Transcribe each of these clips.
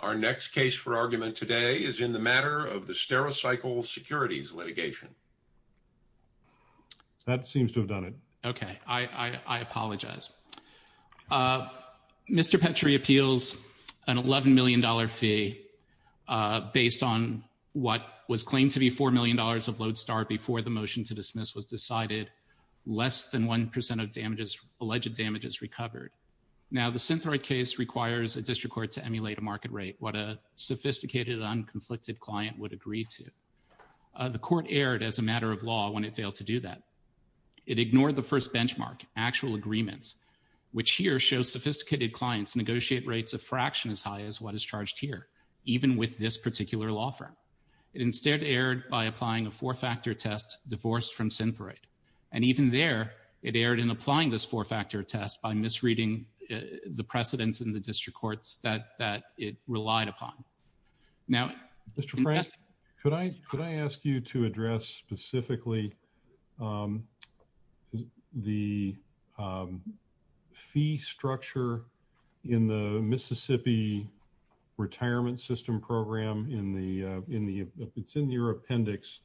Our next case for argument today is in the matter of the Stericycle Securities litigation. That seems to have done it. Okay, I apologize. Mr. Petri appeals an $11 million fee based on what was claimed to be $4 million of Lodestar before the motion to dismiss was decided, less than 1% of damages, alleged damages recovered. Now, the Synthroid case requires a district court to emulate a market rate, what a sophisticated and unconflicted client would agree to. The court erred as a matter of law when it failed to do that. It ignored the first benchmark, actual agreements, which here show sophisticated clients negotiate rates a fraction as high as what is charged here, even with this particular law firm. It instead erred by applying a four-factor test divorced from Synthroid. And even there, it erred in applying this four-factor test by misreading the precedents in the district courts that it relied upon. Now, Mr. Frank, could I ask you to address specifically the fee structure in the Mississippi Retirement System program in the, it's in your appendix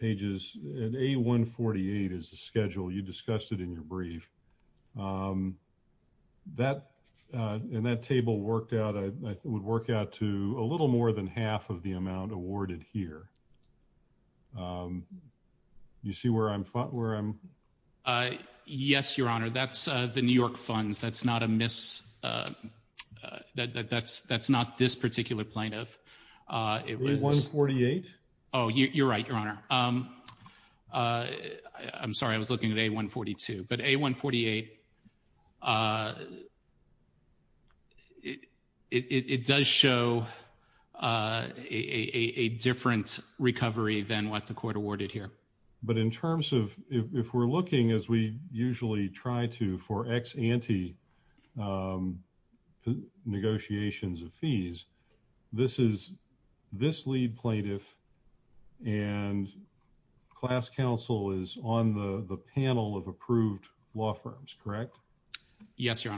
pages, and A148 is the schedule. You discussed it in your brief. That, and that table worked out, I would work out to a little more than half of the amount awarded here. You see where I'm, where I'm? Yes, your honor. That's the New York funds. That's not a mis, that's not this particular plaintiff. A148? Oh, you're right, your honor. I'm sorry, I was looking at A142, but A148, it does show a different recovery than what the court awarded here. But in terms of, if we're looking as we usually try to for ex ante negotiations of fees, this is, this lead plaintiff and class counsel is on the panel of approved law firms, correct? Yes, your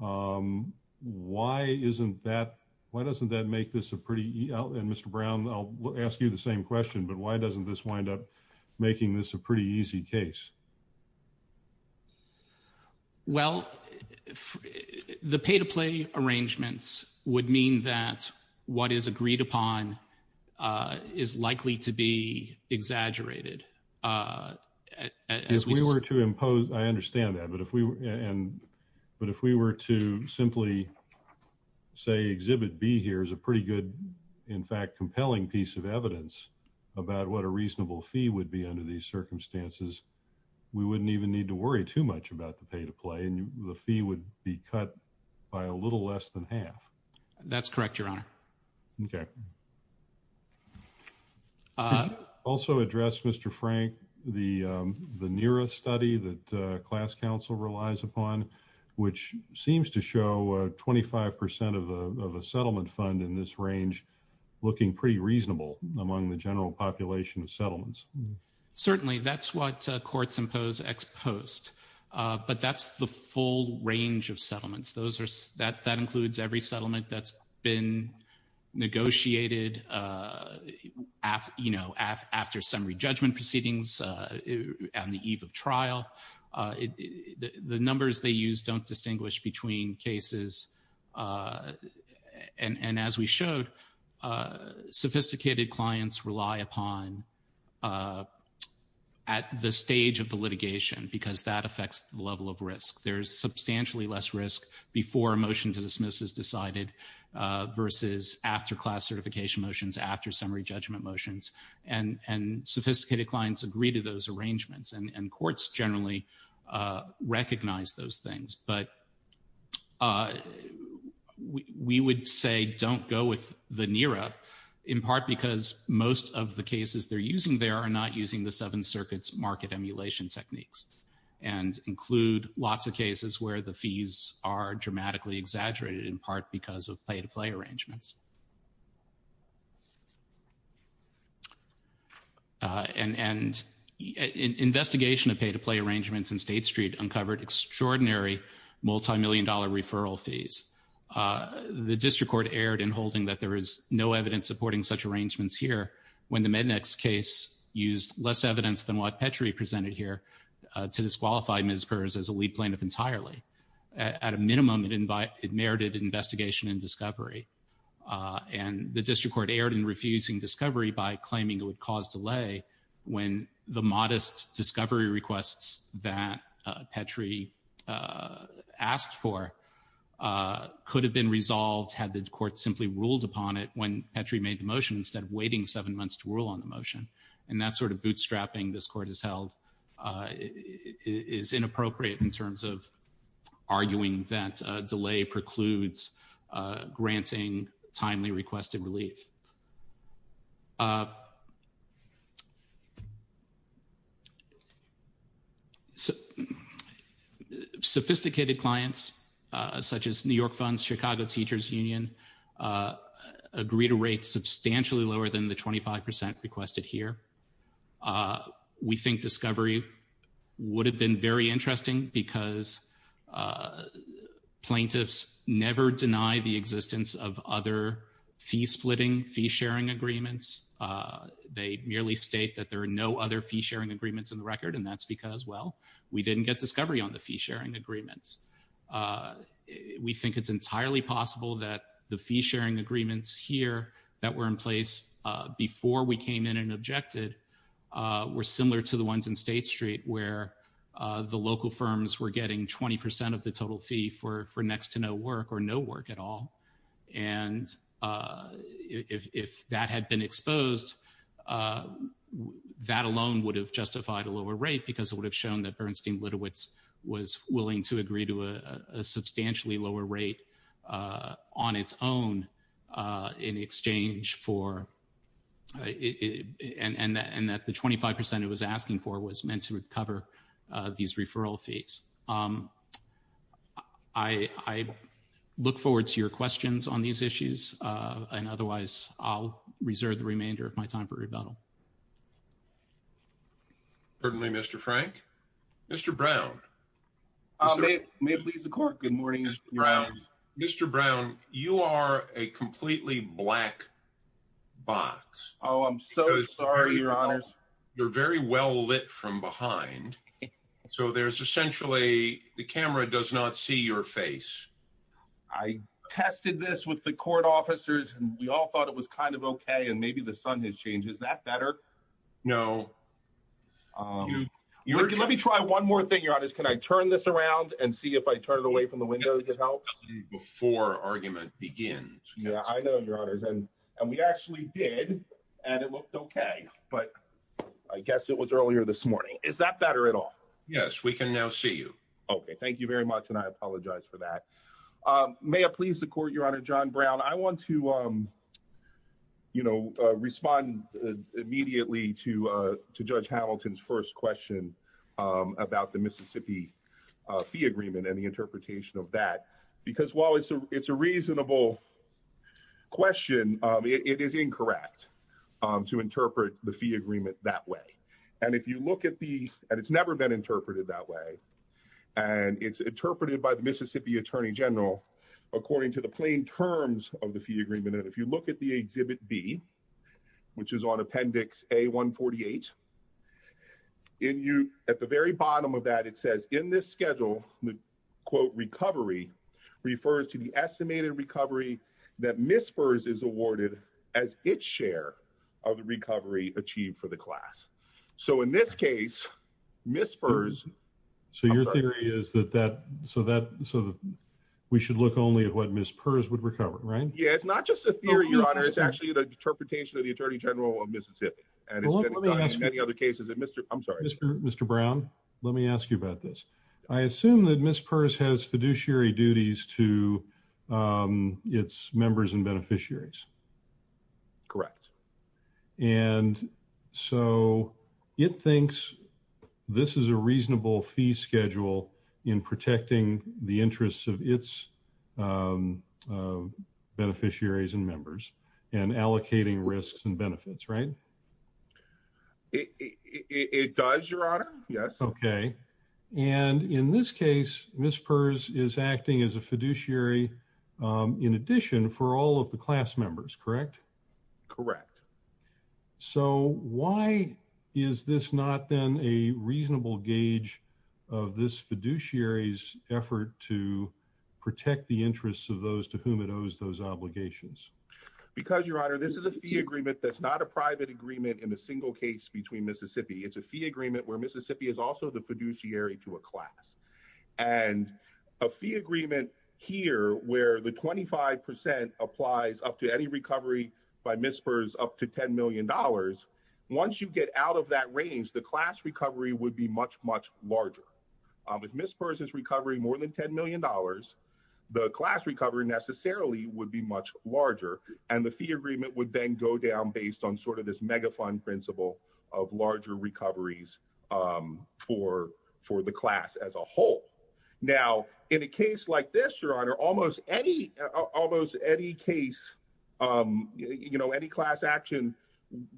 honor. Why isn't that, why doesn't that make this a pretty, and Mr. Brown, I'll ask you the same question, but why doesn't this wind up making this a pretty easy case? Well, the pay to play arrangements would mean that what is agreed upon is likely to be exaggerated. If we were to impose, I understand that, but if we were, and, but if we were to simply say, exhibit B here is a pretty good, in fact, compelling piece of evidence about what a reasonable fee would be under these circumstances, we wouldn't even need to worry too much about the pay to play and the fee would be cut by a little less than half. That's correct, your honor. Okay. Uh, also address Mr. Frank, the, um, the nearest study that, uh, class counsel relies upon, which seems to show, uh, 25% of, uh, of a settlement fund in this range, looking pretty reasonable among the general population of settlements. Certainly that's what, uh, courts impose ex post, uh, but that's the full range of settlements. Those are, that, that includes every settlement that's been negotiated, uh, af, you know, af, after summary judgment proceedings, uh, on the eve of trial. Uh, it, the, the numbers they use don't distinguish between cases, uh, and, and as we showed, uh, sophisticated clients rely upon, uh, at the stage of the litigation because that affects the level of risk. There's substantially less risk before a motion to dismiss is decided, uh, versus after class certification motions, after summary judgment motions and, and sophisticated clients agree to those arrangements and, and courts generally, uh, recognize those things. But, uh, we, we would say don't go with the NERA in part because most of the cases they're using there are not using the seven circuits market emulation techniques and include lots of cases where the fees are dramatically exaggerated in part because of pay-to-play arrangements. Uh, and, and investigation of pay-to-play arrangements in State Street uncovered extraordinary multi-million dollar referral fees. Uh, the district court erred in holding that there is no evidence supporting such arrangements here when the Mednex case used less evidence than what Petrie presented here, uh, to disqualify Ms. in discovery. Uh, and the district court erred in refusing discovery by claiming it would cause delay when the modest discovery requests that, uh, Petrie, uh, asked for, uh, could have been resolved had the court simply ruled upon it when Petrie made the motion instead of waiting seven months to rule on the motion. And that sort of bootstrapping this court has held, uh, is inappropriate in terms of arguing that, uh, delay precludes, uh, granting timely requested relief. Uh, sophisticated clients, uh, such as New York funds, Chicago teachers union, uh, agree to rates substantially lower than the 25% requested here. Uh, we think discovery would have been very interesting because, uh, plaintiffs never deny the existence of other fee-splitting, fee-sharing agreements. Uh, they merely state that there are no other fee-sharing agreements in the record, and that's because, well, we didn't get discovery on the fee-sharing agreements. Uh, we think it's entirely possible that the fee-sharing agreements here that were in place, uh, before we came in and objected, uh, were similar to the ones in State Street where, uh, the local firms were getting 20% of the total fee for, for next to no work or no work at all. And, uh, if, if that had been exposed, uh, that alone would have justified a lower rate because it would have shown that Bernstein-Litowitz was willing to agree to a, a substantially lower rate, uh, on its own, uh, in exchange for, uh, it, it, and, and, and that the 25% it was asking for was meant to recover, uh, these referral fees. Um, I, I look forward to your questions on these issues, uh, and otherwise I'll reserve the remainder of my time for rebuttal. Certainly, Mr. Frank. Mr. Brown. May it please the court. Good morning, Mr. Brown. Mr. Brown, you are a completely black box. Oh, I'm so sorry, your honor. You're very well lit from behind. So there's essentially, the camera does not see your face. I tested this with the court officers and we all thought it was kind of okay. And maybe the sun has changed. Is that better? No. Um, let me try one more thing, your honor. Can I turn this around and see if I turn it away from the window? It helps before argument begins. Yeah, I know your honors. And, and we actually did and it looked okay, but I guess it was earlier this morning. Is that better at all? Yes, we can now see you. Okay. Thank you very much. And I apologize for that. Um, may it please the court, your honor, John Brown, I want to, um, you know, uh, respond immediately to, uh, to judge Hamilton's first question, um, about the Mississippi, uh, fee agreement and the interpretation of that, because while it's a, it's a reasonable question, um, it is incorrect, um, to interpret the fee agreement that way. And if you look at the, and it's never been interpreted that way, and it's interpreted by the Mississippi attorney general, according to the plain terms of the fee agreement. And if you look at the exhibit B, which is on appendix a one 48 in you at the very bottom of that, it says in this schedule, the quote recovery refers to the estimated recovery that mispers is awarded as its share of the recovery achieved for the class. So in this case, mispers. So your theory is that that, so that, so that we should look only at what mispers would recover, right? Yeah. It's not just a theory, your honor. It's actually the interpretation of the attorney general of Mississippi and any other cases that Mr. I'm sorry, Mr. Mr. Brown, let me ask you about this. I assume that Miss purse has fiduciary duties to, um, this is a reasonable fee schedule in protecting the interests of its, um, uh, beneficiaries and members and allocating risks and benefits, right? It does your honor. Yes. Okay. And in this case, mispers is acting as a fiduciary, um, in addition for all of the class members, correct? Correct. So why is this not then a reasonable gauge of this fiduciaries effort to protect the interests of those to whom it owes those obligations? Because your honor, this is a fee agreement. That's not a private agreement in a single case between Mississippi. It's a fee agreement where Mississippi is also the fiduciary to a class and a fee agreement here where the 25 applies up to by mispers up to $10 million. Once you get out of that range, the class recovery would be much, much larger. Um, if mispers is recovering more than $10 million, the class recovery necessarily would be much larger. And the fee agreement would then go down based on sort of this mega fund principle of larger recoveries, um, for, for the class as a whole. Now, in a case like this, your honor, almost any, almost any case, um, you know, any class action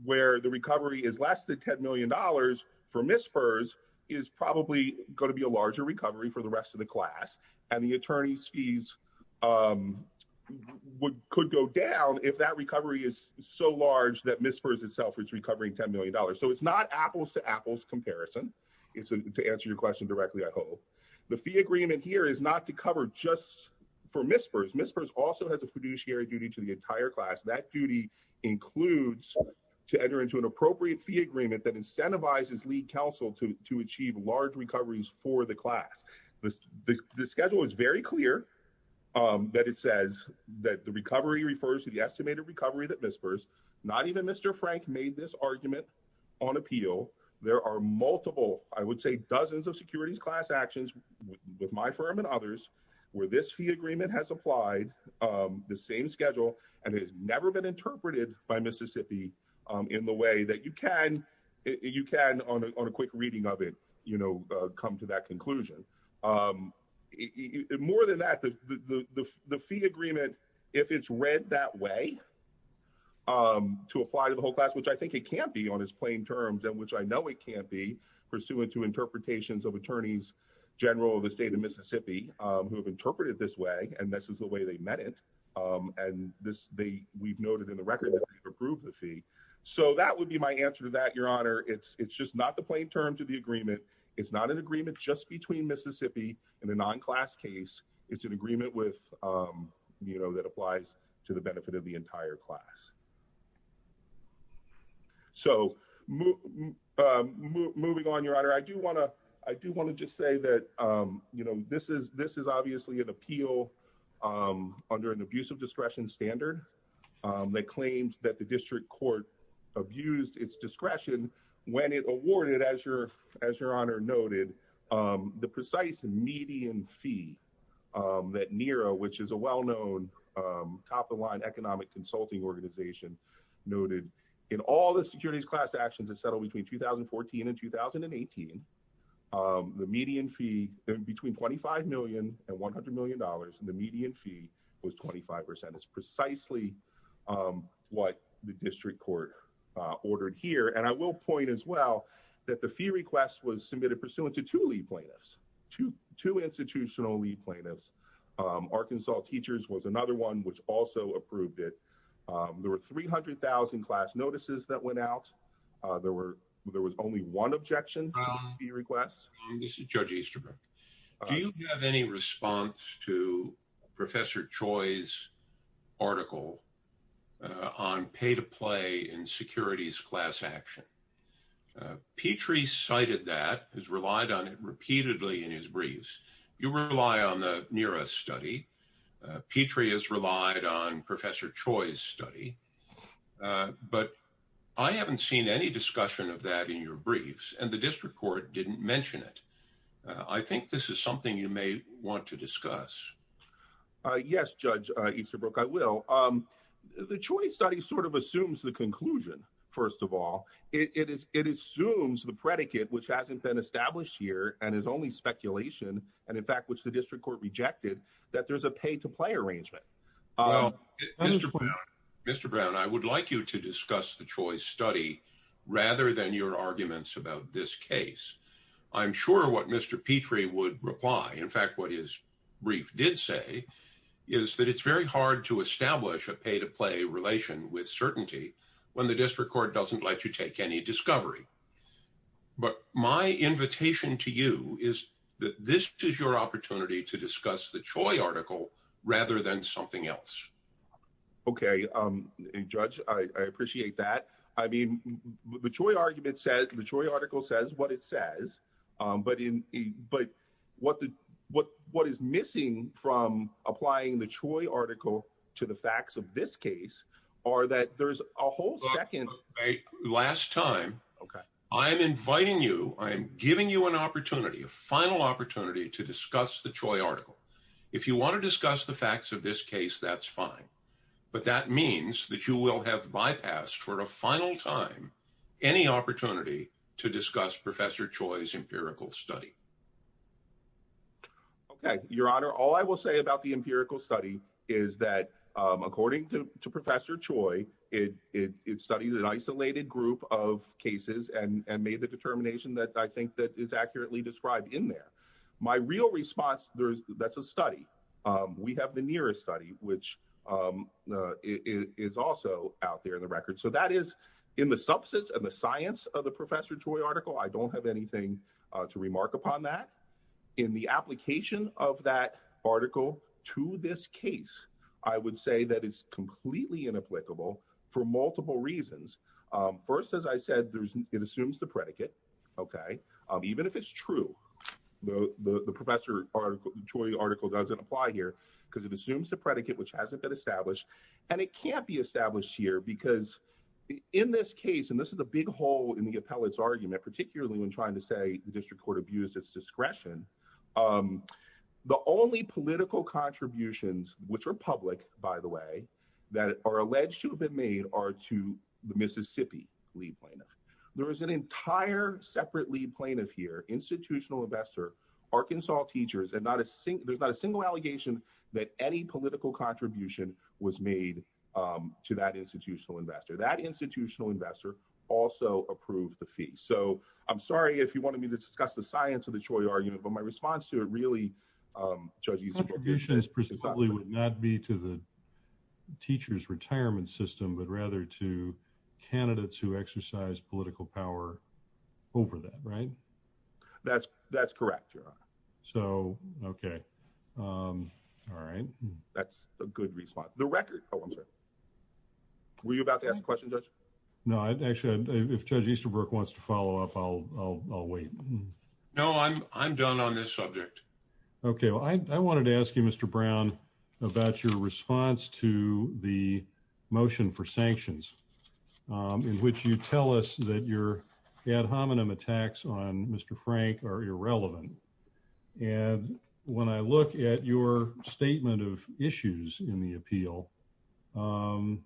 where the recovery is less than $10 million for mispers is probably going to be a larger recovery for the rest of the class. And the attorney's fees, um, would, could go down if that recovery is so large that mispers itself is recovering $10 million. So it's not apples to apples comparison. It's to answer your question directly. I hope the fee agreement here is not to cover just for mispers mispers also has a fiduciary duty to the entire class. That duty includes to enter into an appropriate fee agreement that incentivizes lead counsel to achieve large recoveries for the class. The schedule is very clear, um, that it says that the recovery refers to the estimated recovery that mispers, not even Frank made this argument on appeal. There are multiple, I would say, dozens of securities class actions with my firm and others where this fee agreement has applied, um, the same schedule and it has never been interpreted by Mississippi, um, in the way that you can, you can on a quick reading of it, you know, uh, come to that conclusion. Um, more than that, the, the, the, if it's read that way, um, to apply to the whole class, which I think it can't be on his plain terms and which I know it can't be pursuant to interpretations of attorneys general of the state of Mississippi, um, who have interpreted this way and this is the way they met it. Um, and this, the, we've noted in the record approved the fee. So that would be my answer to that. Your honor. It's, it's just not the plain terms of the agreement. It's not an agreement just between Mississippi and the non-class case. It's an agreement with, um, you know, that applies to the benefit of the entire class. So, um, moving on your honor, I do want to, I do want to just say that, um, you know, this is, this is obviously an appeal, um, under an abusive discretion standard, um, that claims that the district court abused its discretion when it awarded as your, as your honor noted, um, the precise median fee, um, that Nero, which is a well-known, um, top of the line economic consulting organization noted in all the securities class actions that settled between 2014 and 2018, um, the median fee in between 25 million and $100 million. And the median fee was 25%. It's precisely, um, what the district court, uh, ordered here. And I will point as well that the fee request was submitted pursuant to two lead plaintiffs, two, two institutional lead plaintiffs. Um, Arkansas teachers was another one, which also approved it. Um, there were 300,000 class notices that went out. Uh, there were, there was only one objection request. This is judge Easterbrook. Do you have any response to professor choice article, uh, on pay to play in securities class action? Uh, Petrie cited that has relied on it repeatedly in his briefs. You rely on the nearest study. Uh, Petrie has relied on professor choice study. Uh, but I haven't seen any discussion of that in your briefs and the district court didn't mention it. Uh, I think this is something you may want to discuss. Uh, yes, judge Easterbrook. I will. Um, the choice study sort of assumes the conclusion. First of all, it is, it assumes the predicate, which hasn't been established here and is only speculation. And in fact, which the district court rejected that there's a pay to play arrangement. Mr. Brown, I would like you to discuss the choice study rather than your arguments about this case. I'm sure what Mr. Petrie would reply. In fact, what is brief did say is that it's very hard to establish a pay to play relation with certainty when the district court doesn't let you take any discovery. But my invitation to you is that this is your opportunity to discuss the joy article rather than something else. Okay. Um, judge, I appreciate that. I mean, the joy argument says the joy article says what it says. Um, but in, but what the, what, what is missing from applying the Troy article to the facts of this case are that there's a whole second last time. Okay. I'm inviting you, I'm giving you an opportunity, a final opportunity to discuss the Troy article. If you want to discuss the facts of this case, that's fine. But that means that you will have bypassed for a final time, any opportunity to discuss professor choice, empirical study. Okay. Your honor. All I will say about the empirical study is that, um, according to professor Troy, it, it, it studied an isolated group of cases and made the determination that I think that is accurately described in there. My real response, there's, that's a study. Um, we have the nearest study, which, um, uh, is also out there in the record. So that is in the substance of the science of the professor Troy article. I don't have anything to remark upon that in the application of that article to this case, I would say that it's completely inapplicable for multiple reasons. Um, first, as I said, there's, it assumes the predicate. Okay. Um, even if it's true, the, the, the professor article, Troy article doesn't apply here because it assumes the predicate, which hasn't been established and it can't be established here because in this case, and this is a big hole in the appellate's argument, particularly when trying to say the district court abused its discretion. Um, the only political contributions, which are public by the way, that are alleged to have been made are to the Mississippi lead plaintiff. There is an entire separate lead plaintiff here, institutional investor, Arkansas teachers, and not a sink. There's not a single allegation that any political contribution was made, um, to that institutional investor, that institutional investor also approved the fee. So I'm sorry, if you wanted me to discuss the science of the Troy argument, but my response to it really, um, judge you specifically would not be to the teacher's retirement system, but rather to candidates who exercise political power over that, right? That's that's correct. So, okay. Um, all right. That's a good response. The record. Oh, I'm sorry. Were you about to ask a question? No, I'd actually, if judge Easterbrook wants to follow up, I'll, I'll, I'll wait. No, I'm, I'm done on this subject. Okay. Well, I wanted to ask you, Mr. Brown about your response to the motion for sanctions, um, in which you tell us that your ad hominem attacks on Mr. Frank are irrelevant. And when I look at your statement of issues in the appeal, um,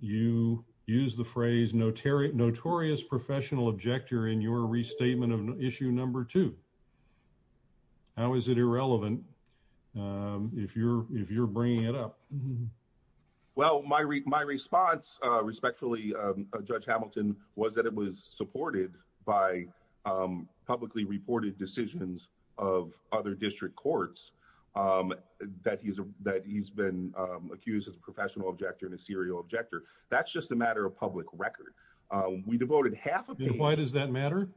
you use the phrase, no Terry, notorious professional objector in your restatement of issue. Number two, how is it irrelevant? Um, if you're, if you're bringing it up, well, my re my response, uh, respectfully, um, uh, judge Hamilton was that it was supported by, um, publicly reported decisions of other district courts, um, that he's, that he's been, um, accused as a professional objector and a serial objector. That's just a matter of public record. Um, we devoted half of it. Why does that matter?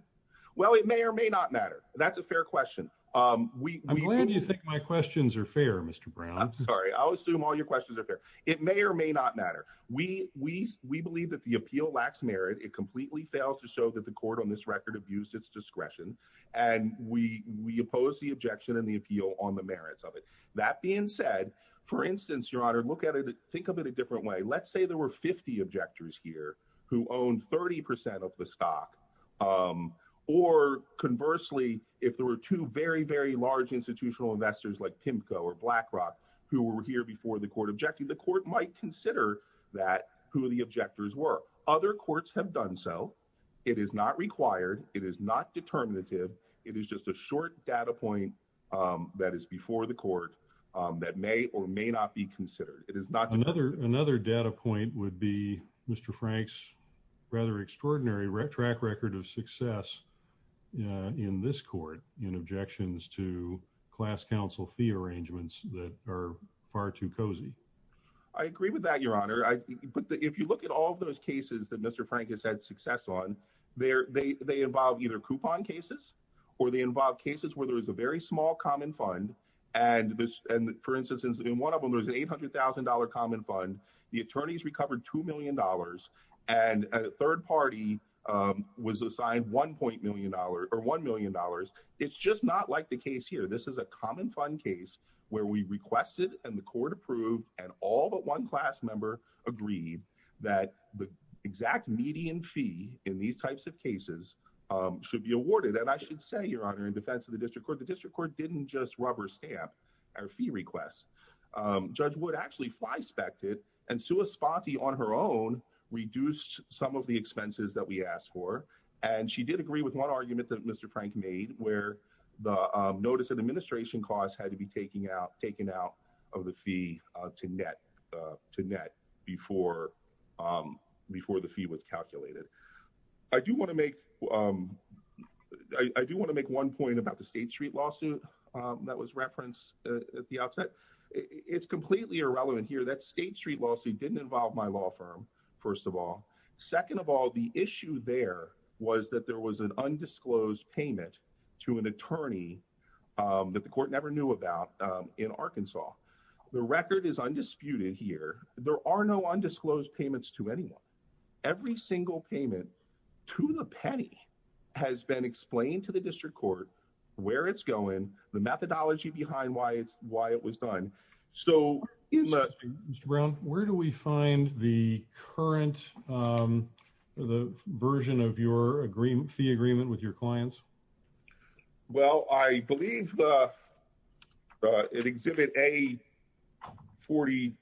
Well, it may or may not matter. That's a fair question. Um, we, I'm glad you think my questions are fair, Mr. Brown. I'm sorry. I'll assume all your questions are fair. It may or may not matter. We, we, we believe that the appeal lacks merit. It completely fails to show that the court on this record abused its discretion. And we, we oppose the objection and the appeal on the merits of it. That being said, for instance, your Honor, look at it, think of it a different way. Let's say there were 50 objectors here who owned 30% of the stock. Um, or conversely, if there were two very, very large institutional investors like PIMCO or BlackRock who were here before the court objecting, the court might consider that who the objectors were. Other courts have done so. It is not required. It is not determinative. It is just a short data point, um, that is before the court, um, that may or may not be considered. It is not. Another, another data point would be Mr. Frank's rather extraordinary track record of success, uh, in this court in objections to class council fee arrangements that are far too cozy. I agree with that, your Honor. I, but if you look at all of those cases that Mr. Frank has had success on there, they, they involve either coupon cases or they involve cases where there was a very small common fund and this, and for instance, in one of them, there was an $800,000 common fund. The attorneys recovered $2 million and a third party, um, was assigned $1 million or $1 million. It's just not like the case here. This is a common fund case where we requested and the court approved and all but one class member agreed that the exact median fee in these types of cases, um, should be awarded. And I should say, your Honor, in defense of the district court, the district court didn't just rubber stamp our fee request. Um, judge would actually fly spec it and Sue a spotty on her own reduced some of the expenses that we asked for. And she did agree with one argument that Mr. Frank made where the, um, notice of administration costs had to be taking out, taken out of the fee, uh, to net, uh, to net before, um, before the fee was calculated. I do want to make, um, I do want to make one point about the state street lawsuit, um, that was referenced at the outset. It's completely irrelevant here. That state street lawsuit didn't involve my law firm. First of all, second of all, the issue there was that there was an undisclosed payment to an attorney, um, that the court never knew about, um, in Arkansas. The record is undisputed here. There are no undisclosed payments to anyone. Every single payment to the penny has been explained to the district court where it's going, the methodology behind why it's, why it was done. So in the ground, where do we find the current, um, the version of your agreement, fee agreement with your clients? Well, I believe the, uh, it exhibit a 40,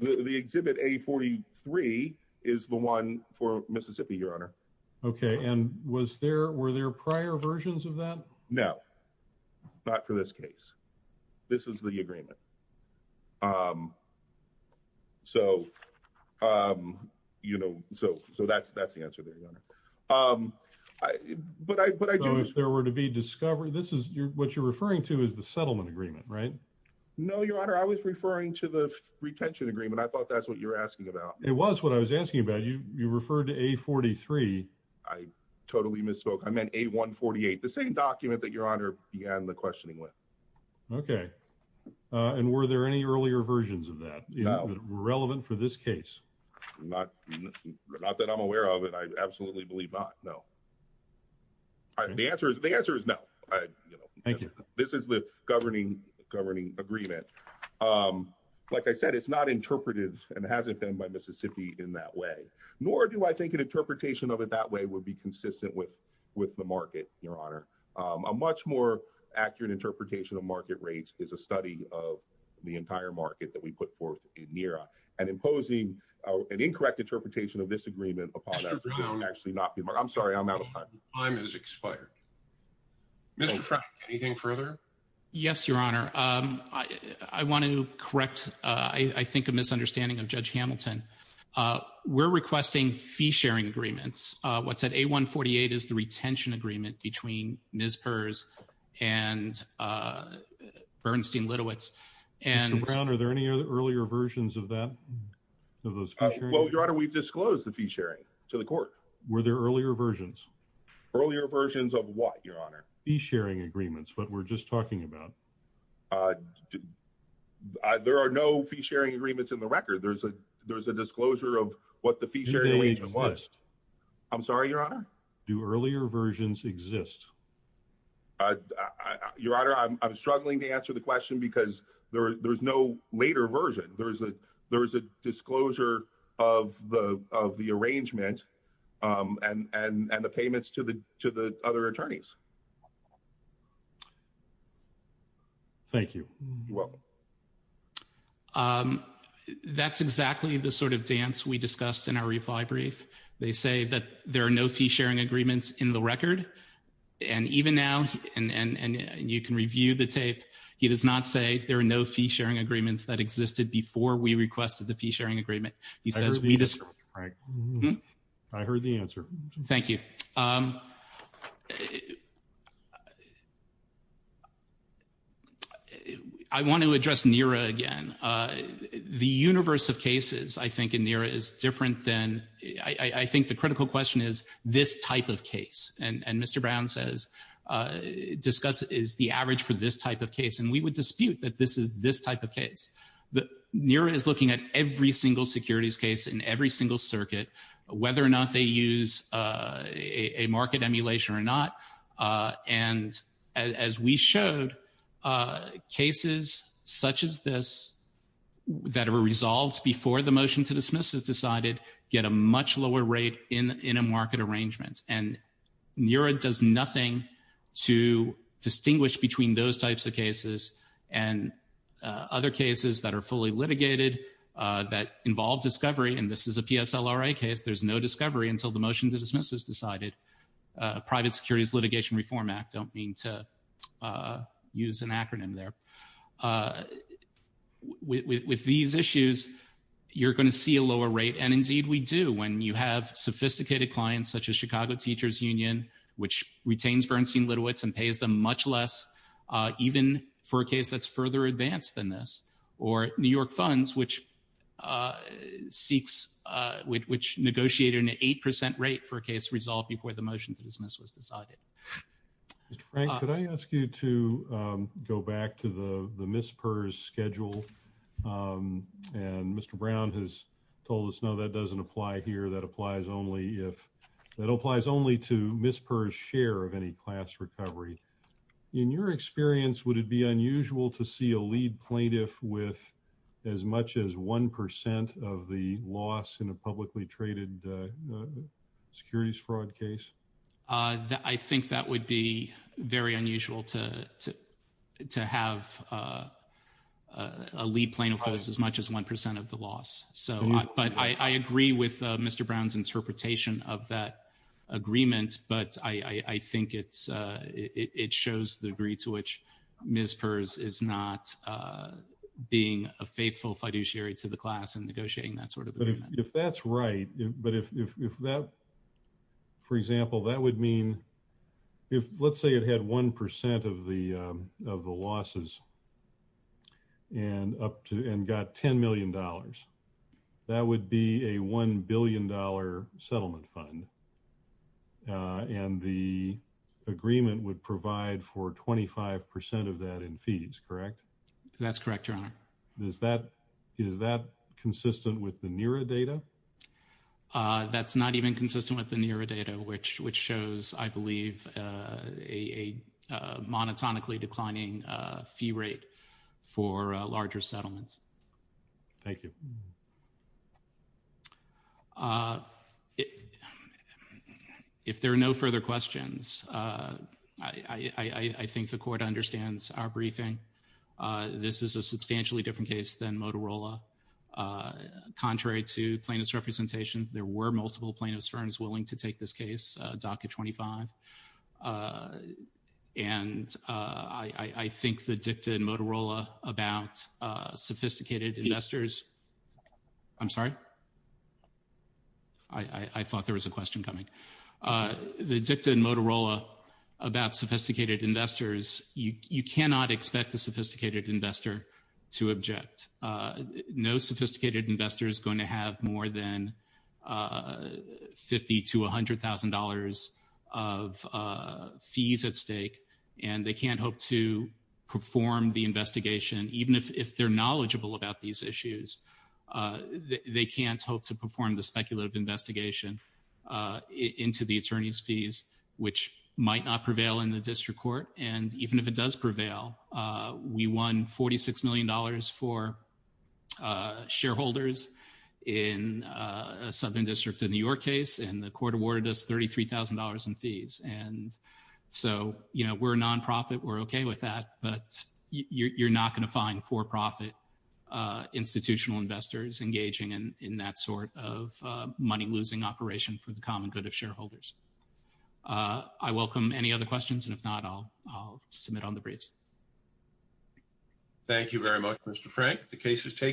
the exhibit a 43 is the one for Mississippi, your honor. Okay. And was there, were there prior versions of that? No, not for this case. This is the agreement. Um, so, um, you know, so, so that's, that's the agreement, right? No, your honor. I was referring to the retention agreement. I thought that's what you're asking about. It was what I was asking about. You, you referred to a 43. I totally misspoke. I meant a one 48, the same document that your honor began the questioning with. Okay. Uh, and were there any earlier versions of that relevant for this case? Not, not that I'm aware of it. I absolutely believe not. No, I, the answer is the answer is no. I, you know, this is the governing governing agreement. Um, like I said, it's not interpreted and it hasn't been by Mississippi in that way, nor do I think an interpretation of it that way would be consistent with, with the market, your honor. Um, a much more accurate interpretation of market rates is a study of the entire market that we put forth in Nira and imposing an incorrect interpretation of this actually not be my, I'm sorry, I'm out of time. Time is expired. Mr. Frank, anything further? Yes, your honor. Um, I, I want to correct, uh, I, I think a misunderstanding of judge Hamilton. Uh, we're requesting fee sharing agreements. Uh, what's at a one 48 is the retention agreement between Ms. Purse and, uh, Bernstein Littowitz and Brown. Are there any other earlier versions of those? Well, your honor, we've disclosed the fee sharing to the court. Were there earlier versions, earlier versions of what your honor? He's sharing agreements, but we're just talking about, uh, there are no fee sharing agreements in the record. There's a, there's a disclosure of what the feature. I'm sorry, your honor. Do earlier versions exist? Uh, your honor, I'm, I'm There was a disclosure of the, of the arrangement, um, and, and, and the payments to the, to the other attorneys. Thank you. You're welcome. Um, that's exactly the sort of dance we discussed in our reply brief. They say that there are no fee sharing agreements in the record. And even now, and, and, and you can review the tape. He does not say there are no fee sharing agreements that existed before we requested the fee sharing agreement. He says, I heard the answer. Thank you. Um, I want to address NERA again. Uh, the universe of cases I think in NERA is different than, I, I think the critical question is this type of case. And, and Mr. Brown says, uh, discuss is the average for this type of case. And we would dispute that this is this type of case. The NERA is looking at every single securities case in every single circuit, whether or not they use, uh, a, a market emulation or not. Uh, and as we showed, uh, cases such as this that are resolved before the motion to dismiss is decided, get a much lower rate in, in a market arrangement. And NERA does nothing to distinguish between those types of cases and, uh, other cases that are fully litigated, uh, that involve discovery. And this is a PSLRA case. There's no discovery until the motion to dismiss is decided. Uh, Private Securities Litigation Reform Act don't mean to, uh, use an acronym there. Uh, with, with, with these issues, you're going to see a lower rate. And indeed we do. When you have sophisticated clients, such as Chicago Teachers Union, which retains Bernstein-Litowitz and pays them much less, uh, even for a case that's further advanced than this, or New York Funds, which, uh, seeks, uh, which negotiate an 8% rate for a case resolved before the motion to dismiss was decided. Mr. Frank, could I ask you to, um, go back to the, the MISPRS schedule? Um, and Mr. Brown has told us, no, that doesn't apply here. That applies only if, that applies only to MISPRS share of any class recovery. In your experience, would it be unusual to see a lead plaintiff with as much as 1% of the loss in a publicly traded, uh, securities fraud case? Uh, I think that would be very unusual to, to, to have, uh, uh, a lead plaintiff as much as 1% of the loss. So, but I, I agree with, uh, Mr. Brown's interpretation of that agreement, but I, I, I think it's, uh, it, it shows the degree to which MISPRS is not, uh, being a faithful fiduciary to the class and negotiating that sort of agreement. If that's right, but if, if, if that, for example, that would mean if, let's say it had 1% of the, um, of the losses and up to, and got $10 million. That would be a $1 billion settlement fund. Uh, and the agreement would provide for 25% of that in fees, correct? That's correct, Your Honor. Is that, is that consistent with the NERA data? Uh, that's not even consistent with the NERA data, which, which shows, I believe, uh, a, a, a monotonically declining, uh, fee rate for, uh, larger settlements. Thank you. Uh, if, if there are no further questions, uh, I, I, I, I think the Court understands our briefing. Uh, this is a substantially different case than Motorola. Uh, contrary to plaintiff's representation, there were multiple plaintiffs' firms willing to take this case, uh, DACA 25. Uh, and, uh, I, I, I think the dicta in Motorola about, uh, sophisticated investors... I'm sorry? I, I, I thought there was a question coming. Uh, the dicta in Motorola about sophisticated investors, you, you cannot expect a sophisticated investor to object. Uh, no sophisticated investor is going to have more than, uh, 50 to $100,000 of, uh, fees at stake, and they can't hope to perform the investigation. Even if, if they're knowledgeable about these issues, uh, they, they can't hope to perform the speculative investigation, uh, into the attorney's fees, which might not prevail in the district court. And even if it does prevail, uh, we won $46 million for, uh, shareholders in, uh, Southern District of New York case, and the Court awarded us $33,000 in fees. And so, you know, we're a non-profit, we're okay with that, but you, you're not going to find for-profit, uh, institutional investors engaging in, in that sort of, uh, money-losing operation for the common good of shareholders. Uh, I welcome any other questions, and if not, I'll, I'll submit on the briefs. Thank you very much, Mr. Frank. The case is taken.